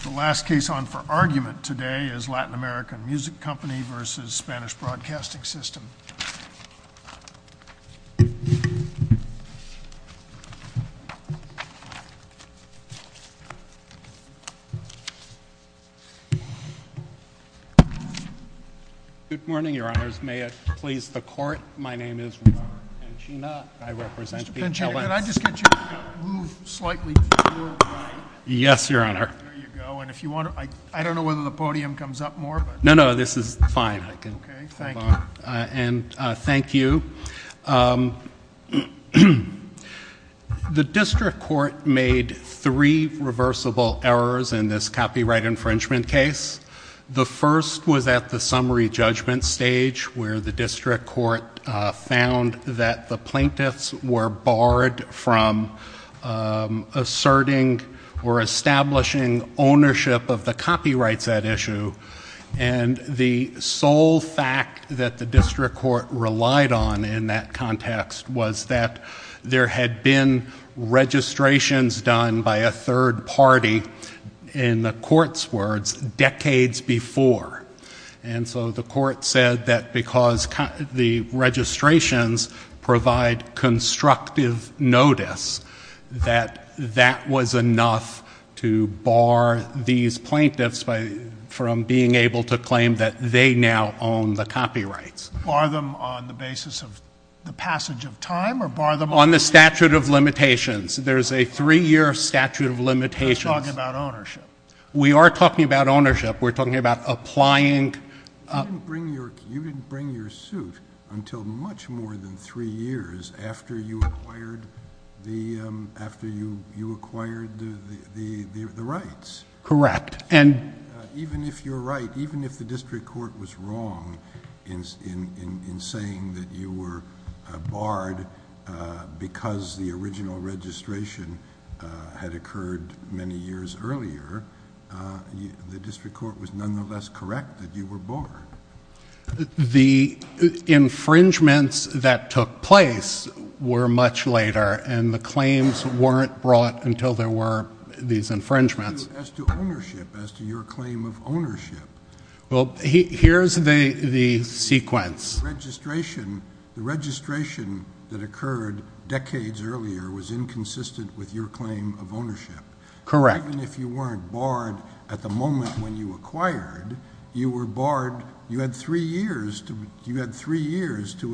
The last case on for argument today is Latin American Music Company versus Spanish Broadcasting System. Good morning, your honors. May it please the court, my name is Robert Penchina, I represent the- Mr. Penchina, could I just get you to move slightly to your right? Yes, your honor. There you go, and if you want to- I don't know whether the podium comes up more, but- No, no, this is fine. Okay, thank you. And thank you. The district court made three reversible errors in this copyright infringement case. The first was at the summary judgment stage where the district court found that the plaintiffs were barred from asserting or establishing ownership of the copyrights at issue. And the sole fact that the district court relied on in that context was that there had been registrations done by a third party, in the court's words, decades before. And so the court said that because the registrations provide constructive notice, that that was enough to bar these plaintiffs from being able to claim that they now own the copyrights. Bar them on the basis of the passage of time, or bar them on- On the statute of limitations. There's a three-year statute of limitations. We're talking about ownership. We are talking about ownership. We're talking about applying- You didn't bring your suit until much more than three years after you acquired the rights. Correct. Even if you're right, even if the district court was wrong in saying that you were barred because the original registration had occurred many years earlier, the district court was nonetheless correct that you were barred. The infringements that took place were much later, and the claims weren't brought until there were these infringements. As to ownership, as to your claim of ownership- Well, here's the sequence. The registration that occurred decades earlier was inconsistent with your claim of ownership. Correct. Even if you weren't barred at the moment when you acquired, you were barred. You had three years to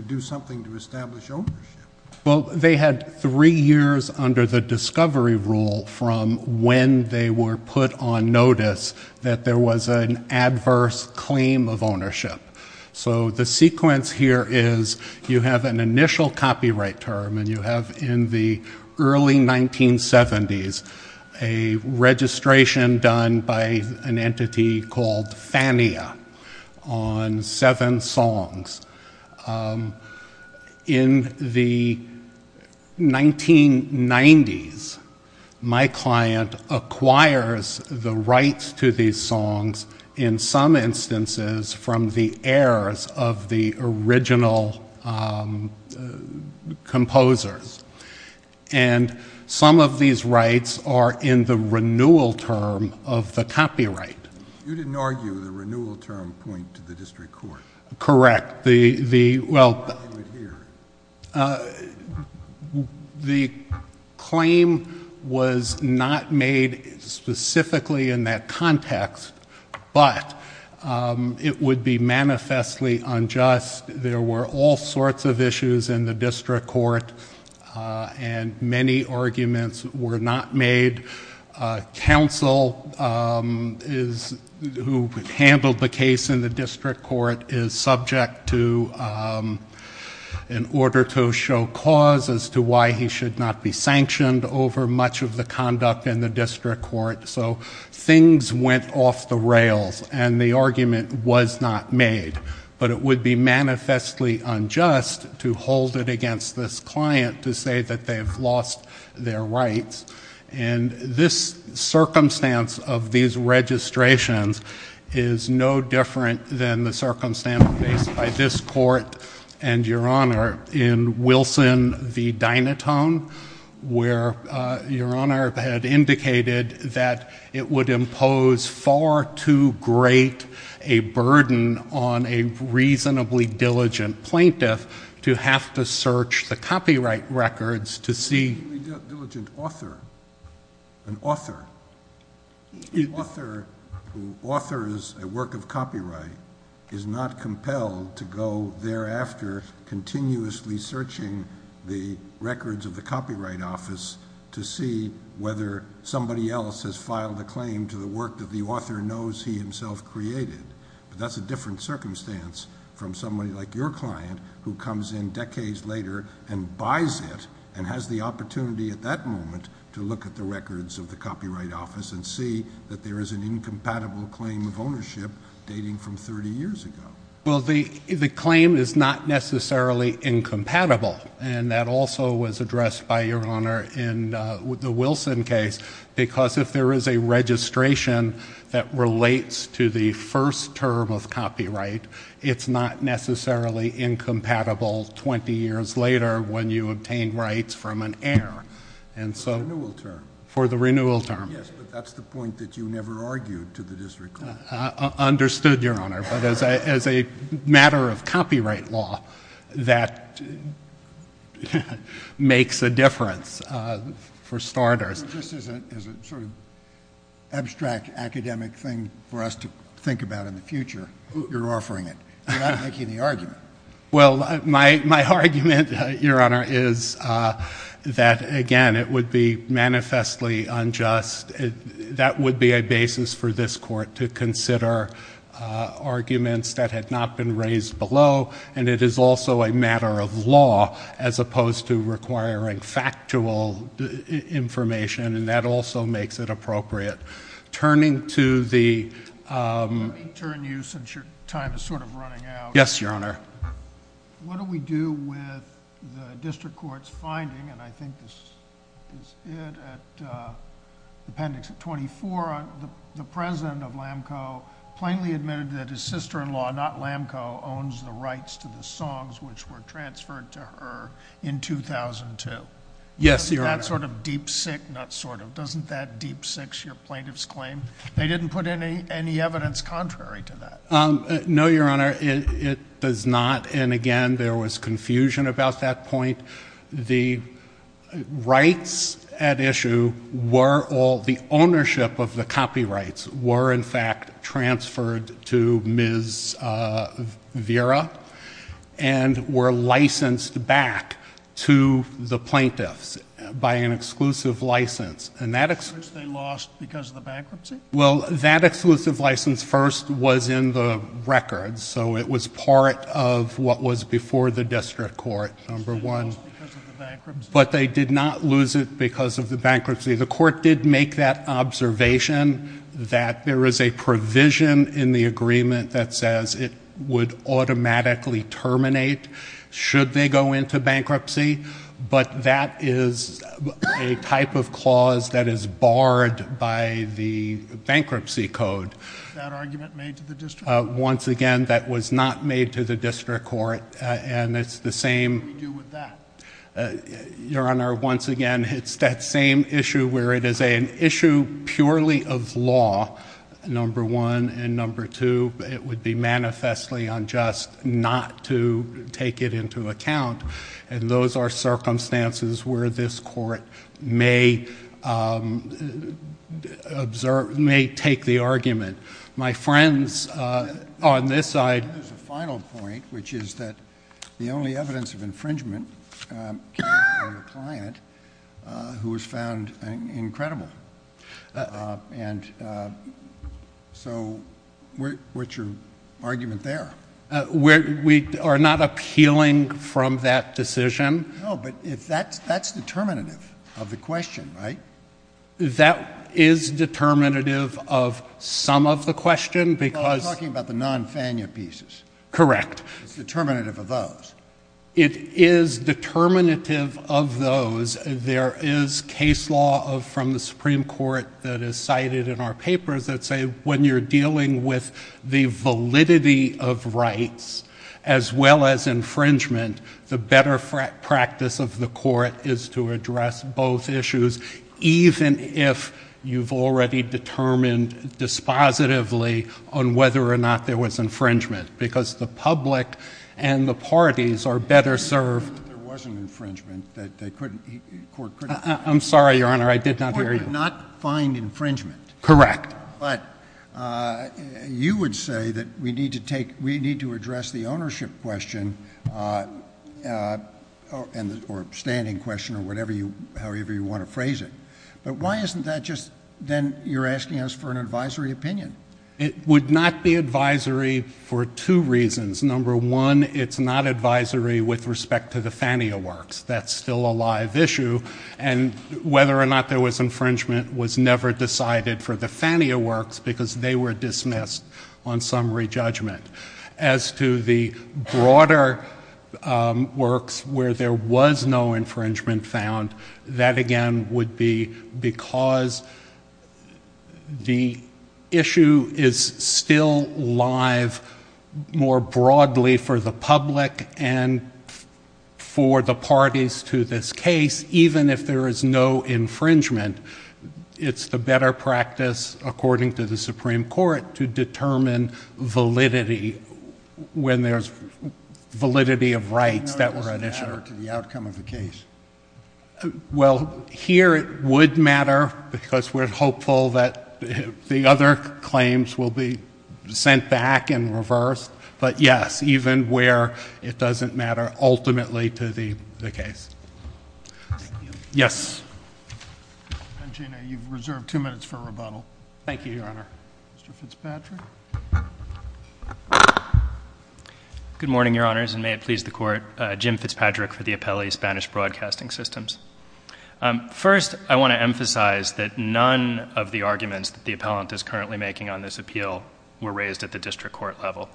do something to establish ownership. Well, they had three years under the discovery rule from when they were put on notice that there was an adverse claim of ownership. So the sequence here is you have an initial copyright term, and you have in the early 1970s a registration done by an entity called FANIA on seven songs. In the 1990s, my client acquires the rights to these songs, in some instances from the heirs of the original composers. And some of these rights are in the renewal term of the copyright. You didn't argue the renewal term point to the district court. Correct. The claim was not made specifically in that context, but it would be manifestly unjust. There were all sorts of issues in the district court, and many arguments were not made. Counsel who handled the case in the district court is subject to, in order to show cause as to why he should not be sanctioned over much of the conduct in the district court. So things went off the rails, and the argument was not made. But it would be manifestly unjust to hold it against this client to say that they have lost their rights. And this circumstance of these registrations is no different than the circumstance faced by this court and Your Honor in Wilson v. Dinotone, where Your Honor had indicated that it would impose far too great a burden on a reasonably diligent plaintiff to have to search the copyright records to see if a reasonably diligent author, an author, author who authors a work of copyright, is not compelled to go thereafter continuously searching the records of the copyright office to see whether somebody else has filed a claim to the work that the author knows he himself created. But that's a different circumstance from somebody like your client who comes in decades later and buys it and has the opportunity at that moment to look at the records of the copyright office and see that there is an incompatible claim of ownership dating from 30 years ago. Well, the claim is not necessarily incompatible, and that also was addressed by Your Honor in the Wilson case, because if there is a registration that relates to the first term of copyright, it's not necessarily incompatible 20 years later when you obtain rights from an heir. For the renewal term. For the renewal term. Yes, but that's the point that you never argued to the district court. Understood, Your Honor. But as a matter of copyright law, that makes a difference for starters. This is a sort of abstract academic thing for us to think about in the future. You're offering it. You're not making the argument. Well, my argument, Your Honor, is that, again, it would be manifestly unjust. That would be a basis for this court to consider arguments that had not been raised below, and it is also a matter of law as opposed to requiring factual information, and that also makes it appropriate. Turning to the — Let me turn to you since your time is sort of running out. Yes, Your Honor. What do we do with the district court's finding, and I think this is it, at Appendix 24, the president of LAMCO plainly admitted that his sister-in-law, not LAMCO, owns the rights to the songs which were transferred to her in 2002. Yes, Your Honor. Isn't that sort of deep sick? Not sort of. Doesn't that deep sick, your plaintiff's claim? They didn't put any evidence contrary to that. No, Your Honor, it does not, and, again, there was confusion about that point. The rights at issue were all — the ownership of the copyrights were, in fact, transferred to Ms. Vera and were licensed back to the plaintiffs by an exclusive license, and that — Which they lost because of the bankruptcy? Well, that exclusive license first was in the records, so it was part of what was before the district court, number one. But they did not lose it because of the bankruptcy. The court did make that observation that there is a provision in the agreement that says it would automatically terminate should they go into bankruptcy, but that is a type of clause that is barred by the bankruptcy code. Was that argument made to the district court? Once again, that was not made to the district court, and it's the same — What do we do with that? Your Honor, once again, it's that same issue where it is an issue purely of law, number one, and, number two, it would be manifestly unjust not to take it into account, and those are circumstances where this Court may observe — may take the argument. My friends, on this side — And then there's a final point, which is that the only evidence of infringement came from a client who was found incredible. And so what's your argument there? We are not appealing from that decision. No, but that's determinative of the question, right? That is determinative of some of the question because — Correct. It's determinative of those. It is determinative of those. There is case law from the Supreme Court that is cited in our papers that say when you're dealing with the validity of rights, as well as infringement, the better practice of the Court is to address both issues, even if you've already determined dispositively on whether or not there was infringement, because the public and the parties are better served — There was an infringement that they couldn't — the Court couldn't — I'm sorry, Your Honor, I did not hear you. The Court could not find infringement. Correct. But you would say that we need to address the ownership question or standing question or however you want to phrase it. But why isn't that just then you're asking us for an advisory opinion? It would not be advisory for two reasons. Number one, it's not advisory with respect to the FANIA works. That's still a live issue. And whether or not there was infringement was never decided for the FANIA works because they were dismissed on summary judgment. As to the broader works where there was no infringement found, that again would be because the issue is still live more broadly for the public and for the parties to this case, even if there is no infringement, it's the better practice, according to the Supreme Court, to determine validity when there's validity of rights that were at issue. It doesn't matter to the outcome of the case. Well, here it would matter because we're hopeful that the other claims will be sent back and reversed. But, yes, even where it doesn't matter ultimately to the case. Yes. And, Gina, you've reserved two minutes for rebuttal. Thank you, Your Honor. Mr. Fitzpatrick. Good morning, Your Honors, and may it please the Court. Jim Fitzpatrick for the Appellee Spanish Broadcasting Systems. First, I want to emphasize that none of the arguments that the appellant is currently making on this appeal were raised at the district court level.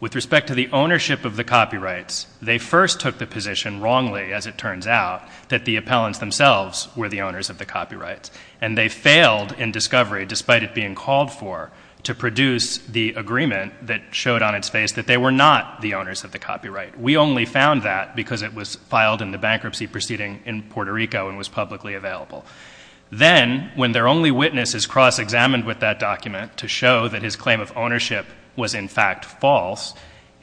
With respect to the ownership of the copyrights, they first took the position wrongly, as it turns out, that the appellants themselves were the owners of the copyrights, and they failed in discovery, despite it being called for, to produce the agreement that showed on its face that they were not the owners of the copyright. We only found that because it was filed in the bankruptcy proceeding in Puerto Rico and was publicly available. Then, when their only witness is cross-examined with that document to show that his claim of ownership was, in fact, false,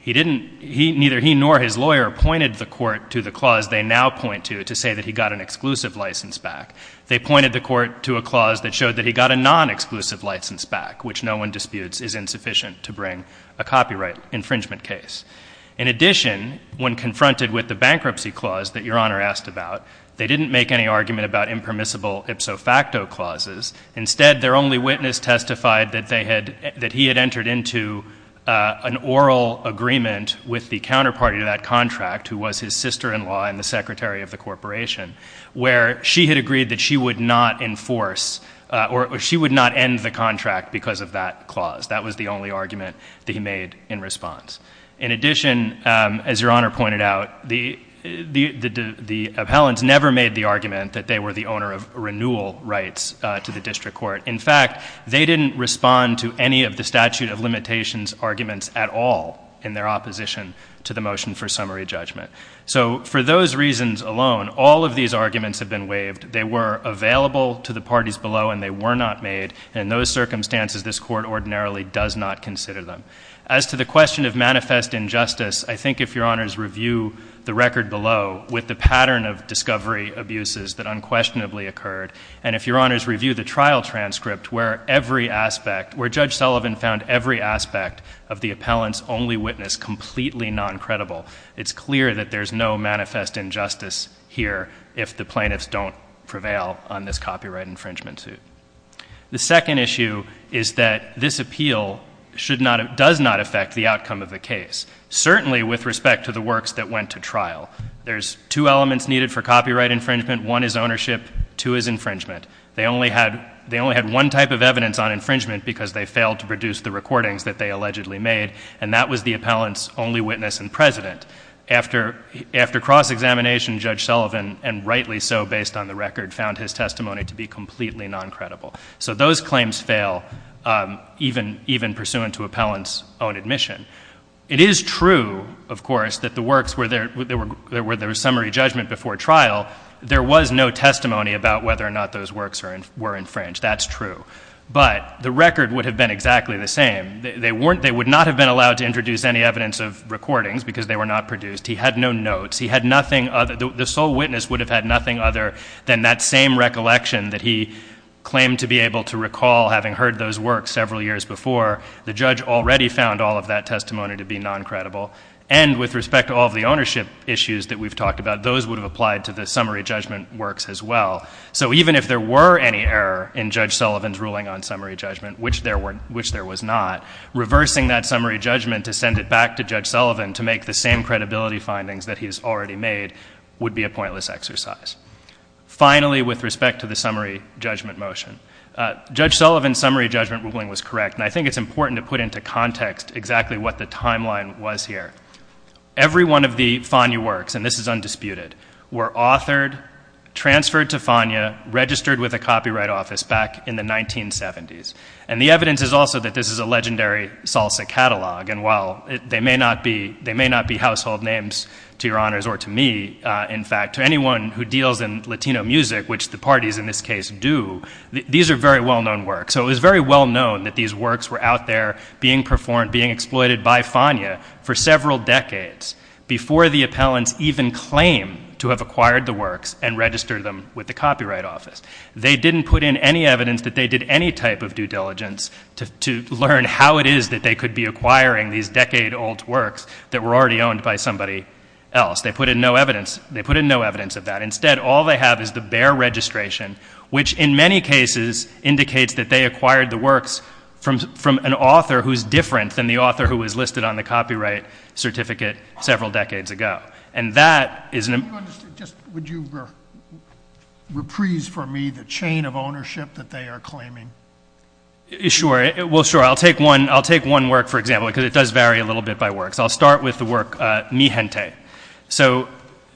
neither he nor his lawyer pointed the court to the clause they now point to to say that he got an exclusive license back. They pointed the court to a clause that showed that he got a non-exclusive license back, which no one disputes is insufficient to bring a copyright infringement case. In addition, when confronted with the bankruptcy clause that Your Honor asked about, they didn't make any argument about impermissible ipso facto clauses. Instead, their only witness testified that he had entered into an oral agreement with the counterparty to that contract, who was his sister-in-law and the secretary of the corporation, where she had agreed that she would not enforce or she would not end the contract because of that clause. That was the only argument that he made in response. In addition, as Your Honor pointed out, the appellants never made the argument that they were the owner of renewal rights to the district court. In fact, they didn't respond to any of the statute of limitations arguments at all in their opposition to the motion for summary judgment. So for those reasons alone, all of these arguments have been waived. They were available to the parties below, and they were not made. In those circumstances, this court ordinarily does not consider them. As to the question of manifest injustice, I think if Your Honors review the record below with the pattern of discovery abuses that unquestionably occurred, and if Your Honors review the trial transcript where every aspect, where Judge Sullivan found every aspect of the appellant's only witness completely noncredible, it's clear that there's no manifest injustice here if the plaintiffs don't prevail on this copyright infringement suit. The second issue is that this appeal does not affect the outcome of the case, certainly with respect to the works that went to trial. There's two elements needed for copyright infringement. One is ownership. Two is infringement. They only had one type of evidence on infringement because they failed to produce the recordings that they allegedly made, and that was the appellant's only witness and president. After cross-examination, Judge Sullivan, and rightly so based on the record, found his testimony to be completely noncredible. So those claims fail, even pursuant to appellant's own admission. It is true, of course, that the works where there was summary judgment before trial, there was no testimony about whether or not those works were infringed. That's true. But the record would have been exactly the same. They would not have been allowed to introduce any evidence of recordings because they were not produced. He had no notes. He had nothing other. The sole witness would have had nothing other than that same recollection that he claimed to be able to recall, having heard those works several years before. The judge already found all of that testimony to be noncredible. And with respect to all of the ownership issues that we've talked about, those would have applied to the summary judgment works as well. So even if there were any error in Judge Sullivan's ruling on summary judgment, which there was not, reversing that summary judgment to send it back to Judge Sullivan to make the same credibility findings that he's already made would be a pointless exercise. Finally, with respect to the summary judgment motion, Judge Sullivan's summary judgment ruling was correct, and I think it's important to put into context exactly what the timeline was here. Every one of the Fania works, and this is undisputed, were authored, transferred to Fania, registered with a copyright office back in the 1970s. And the evidence is also that this is a legendary Salsa catalog, and while they may not be household names to your honors or to me, in fact, to anyone who deals in Latino music, which the parties in this case do, these are very well-known works. So it was very well-known that these works were out there being performed, being exploited by Fania for several decades, before the appellants even claimed to have acquired the works and registered them with the copyright office. They didn't put in any evidence that they did any type of due diligence to learn how it is that they could be acquiring these decade-old works that were already owned by somebody else. They put in no evidence of that. Instead, all they have is the bare registration, which in many cases indicates that they acquired the works from an author who's different than the author who was listed on the copyright certificate several decades ago. And that is an... Would you reprise for me the chain of ownership that they are claiming? Sure. Well, sure. I'll take one work, for example, because it does vary a little bit by work. So I'll start with the work Mijente. So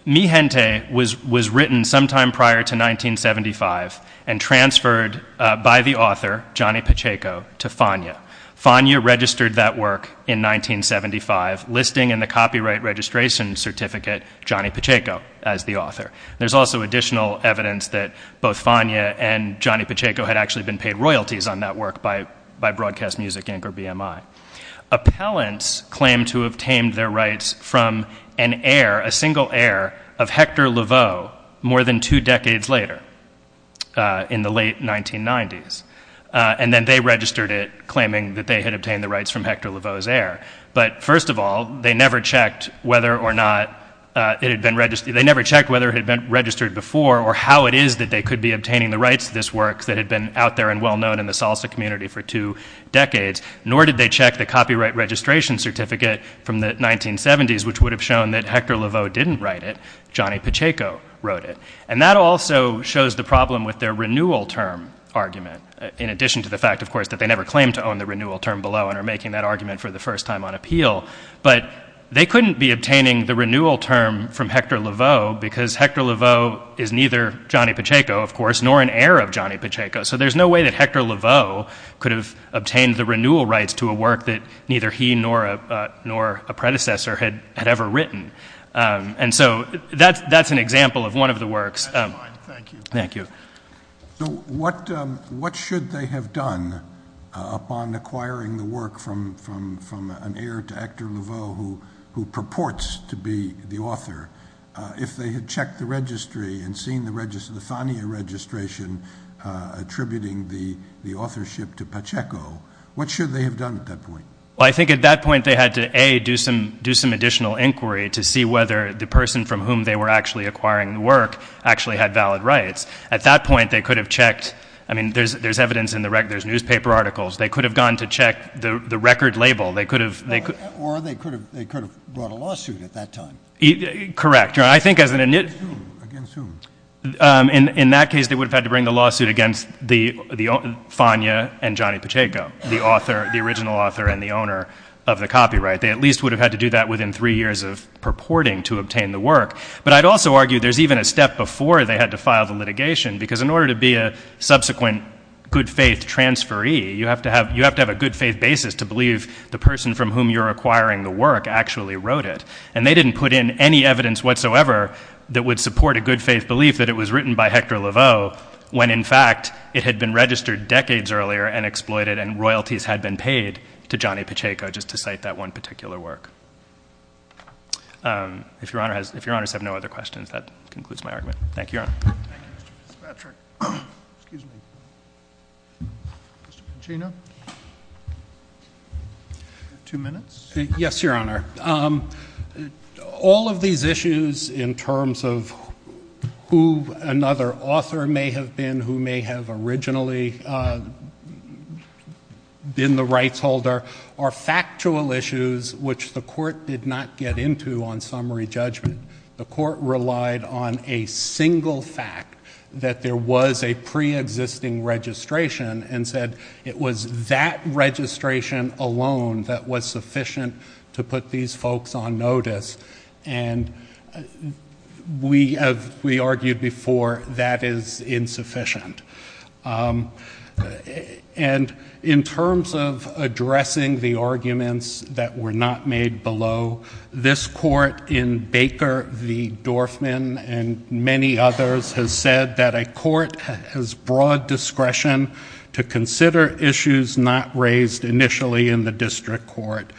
Mijente was written sometime prior to 1975 and transferred by the author, Johnny Pacheco, to Fania. Fania registered that work in 1975, listing in the copyright registration certificate Johnny Pacheco as the author. There's also additional evidence that both Fania and Johnny Pacheco had actually been paid royalties on that work by Broadcast Music Inc. or BMI. Appellants claimed to have tamed their rights from an heir, a single heir, of Hector Laveau more than two decades later, in the late 1990s. And then they registered it, claiming that they had obtained the rights from Hector Laveau's heir. But first of all, they never checked whether or not it had been registered... They never checked whether it had been registered before or how it is that they could be obtaining the rights to this work that had been out there and well-known in the Salsa community for two decades. Nor did they check the copyright registration certificate from the 1970s, which would have shown that Hector Laveau didn't write it. Johnny Pacheco wrote it. And that also shows the problem with their renewal term argument, in addition to the fact, of course, that they never claimed to own the renewal term below and are making that argument for the first time on appeal. But they couldn't be obtaining the renewal term from Hector Laveau because Hector Laveau is neither Johnny Pacheco, of course, nor an heir of Johnny Pacheco. So there's no way that Hector Laveau could have obtained the renewal rights to a work that neither he nor a predecessor had ever written. And so that's an example of one of the works. That's fine. Thank you. Thank you. So what should they have done upon acquiring the work from an heir to Hector Laveau and seeing the Fania registration attributing the authorship to Pacheco? What should they have done at that point? Well, I think at that point they had to, A, do some additional inquiry to see whether the person from whom they were actually acquiring the work actually had valid rights. At that point, they could have checked. I mean, there's evidence in the record. There's newspaper articles. They could have gone to check the record label. Or they could have brought a lawsuit at that time. Correct. Against whom? In that case, they would have had to bring the lawsuit against Fania and Johnny Pacheco, the original author and the owner of the copyright. They at least would have had to do that within three years of purporting to obtain the work. But I'd also argue there's even a step before they had to file the litigation, because in order to be a subsequent good-faith transferee, you have to have a good-faith basis to believe the person from whom you're acquiring the work actually wrote it. And they didn't put in any evidence whatsoever that would support a good-faith belief that it was written by Hector Laveau when, in fact, it had been registered decades earlier and exploited and royalties had been paid to Johnny Pacheco just to cite that one particular work. If Your Honor has no other questions, that concludes my argument. Thank you, Your Honor. Thank you, Mr. Patrick. Excuse me. Mr. Pacino? Two minutes? Yes, Your Honor. All of these issues in terms of who another author may have been, who may have originally been the rights holder, are factual issues which the Court did not get into on summary judgment. The Court relied on a single fact that there was a preexisting registration and said it was that registration alone that was sufficient to put these folks on notice. And we argued before that is insufficient. And in terms of addressing the arguments that were not made below, this Court in Baker v. Dorfman and many others has said that a court has broad discretion to consider issues not raised initially in the district court.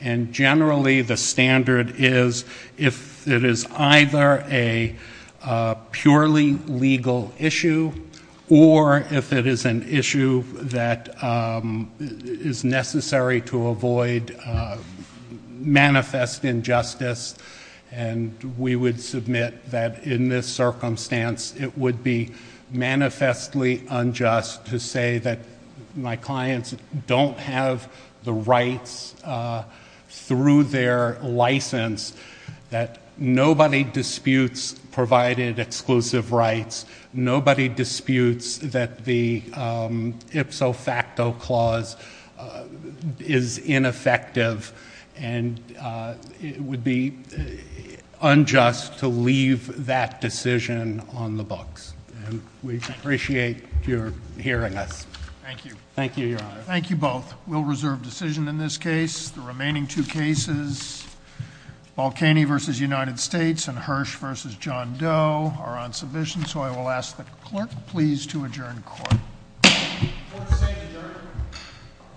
And generally the standard is if it is either a purely legal issue or if it is an issue that is necessary to avoid manifest injustice. And we would submit that in this circumstance it would be manifestly unjust to say that my clients don't have the rights through their license, that nobody disputes provided exclusive rights, nobody disputes that the ipso facto clause is ineffective, and it would be unjust to leave that decision on the books. And we appreciate your hearing us. Thank you. Thank you, Your Honor. Thank you both. We'll reserve decision in this case. The remaining two cases, Balkany v. United States and Hirsch v. John Doe, are on submission. So I will ask the clerk please to adjourn court. Court is adjourned.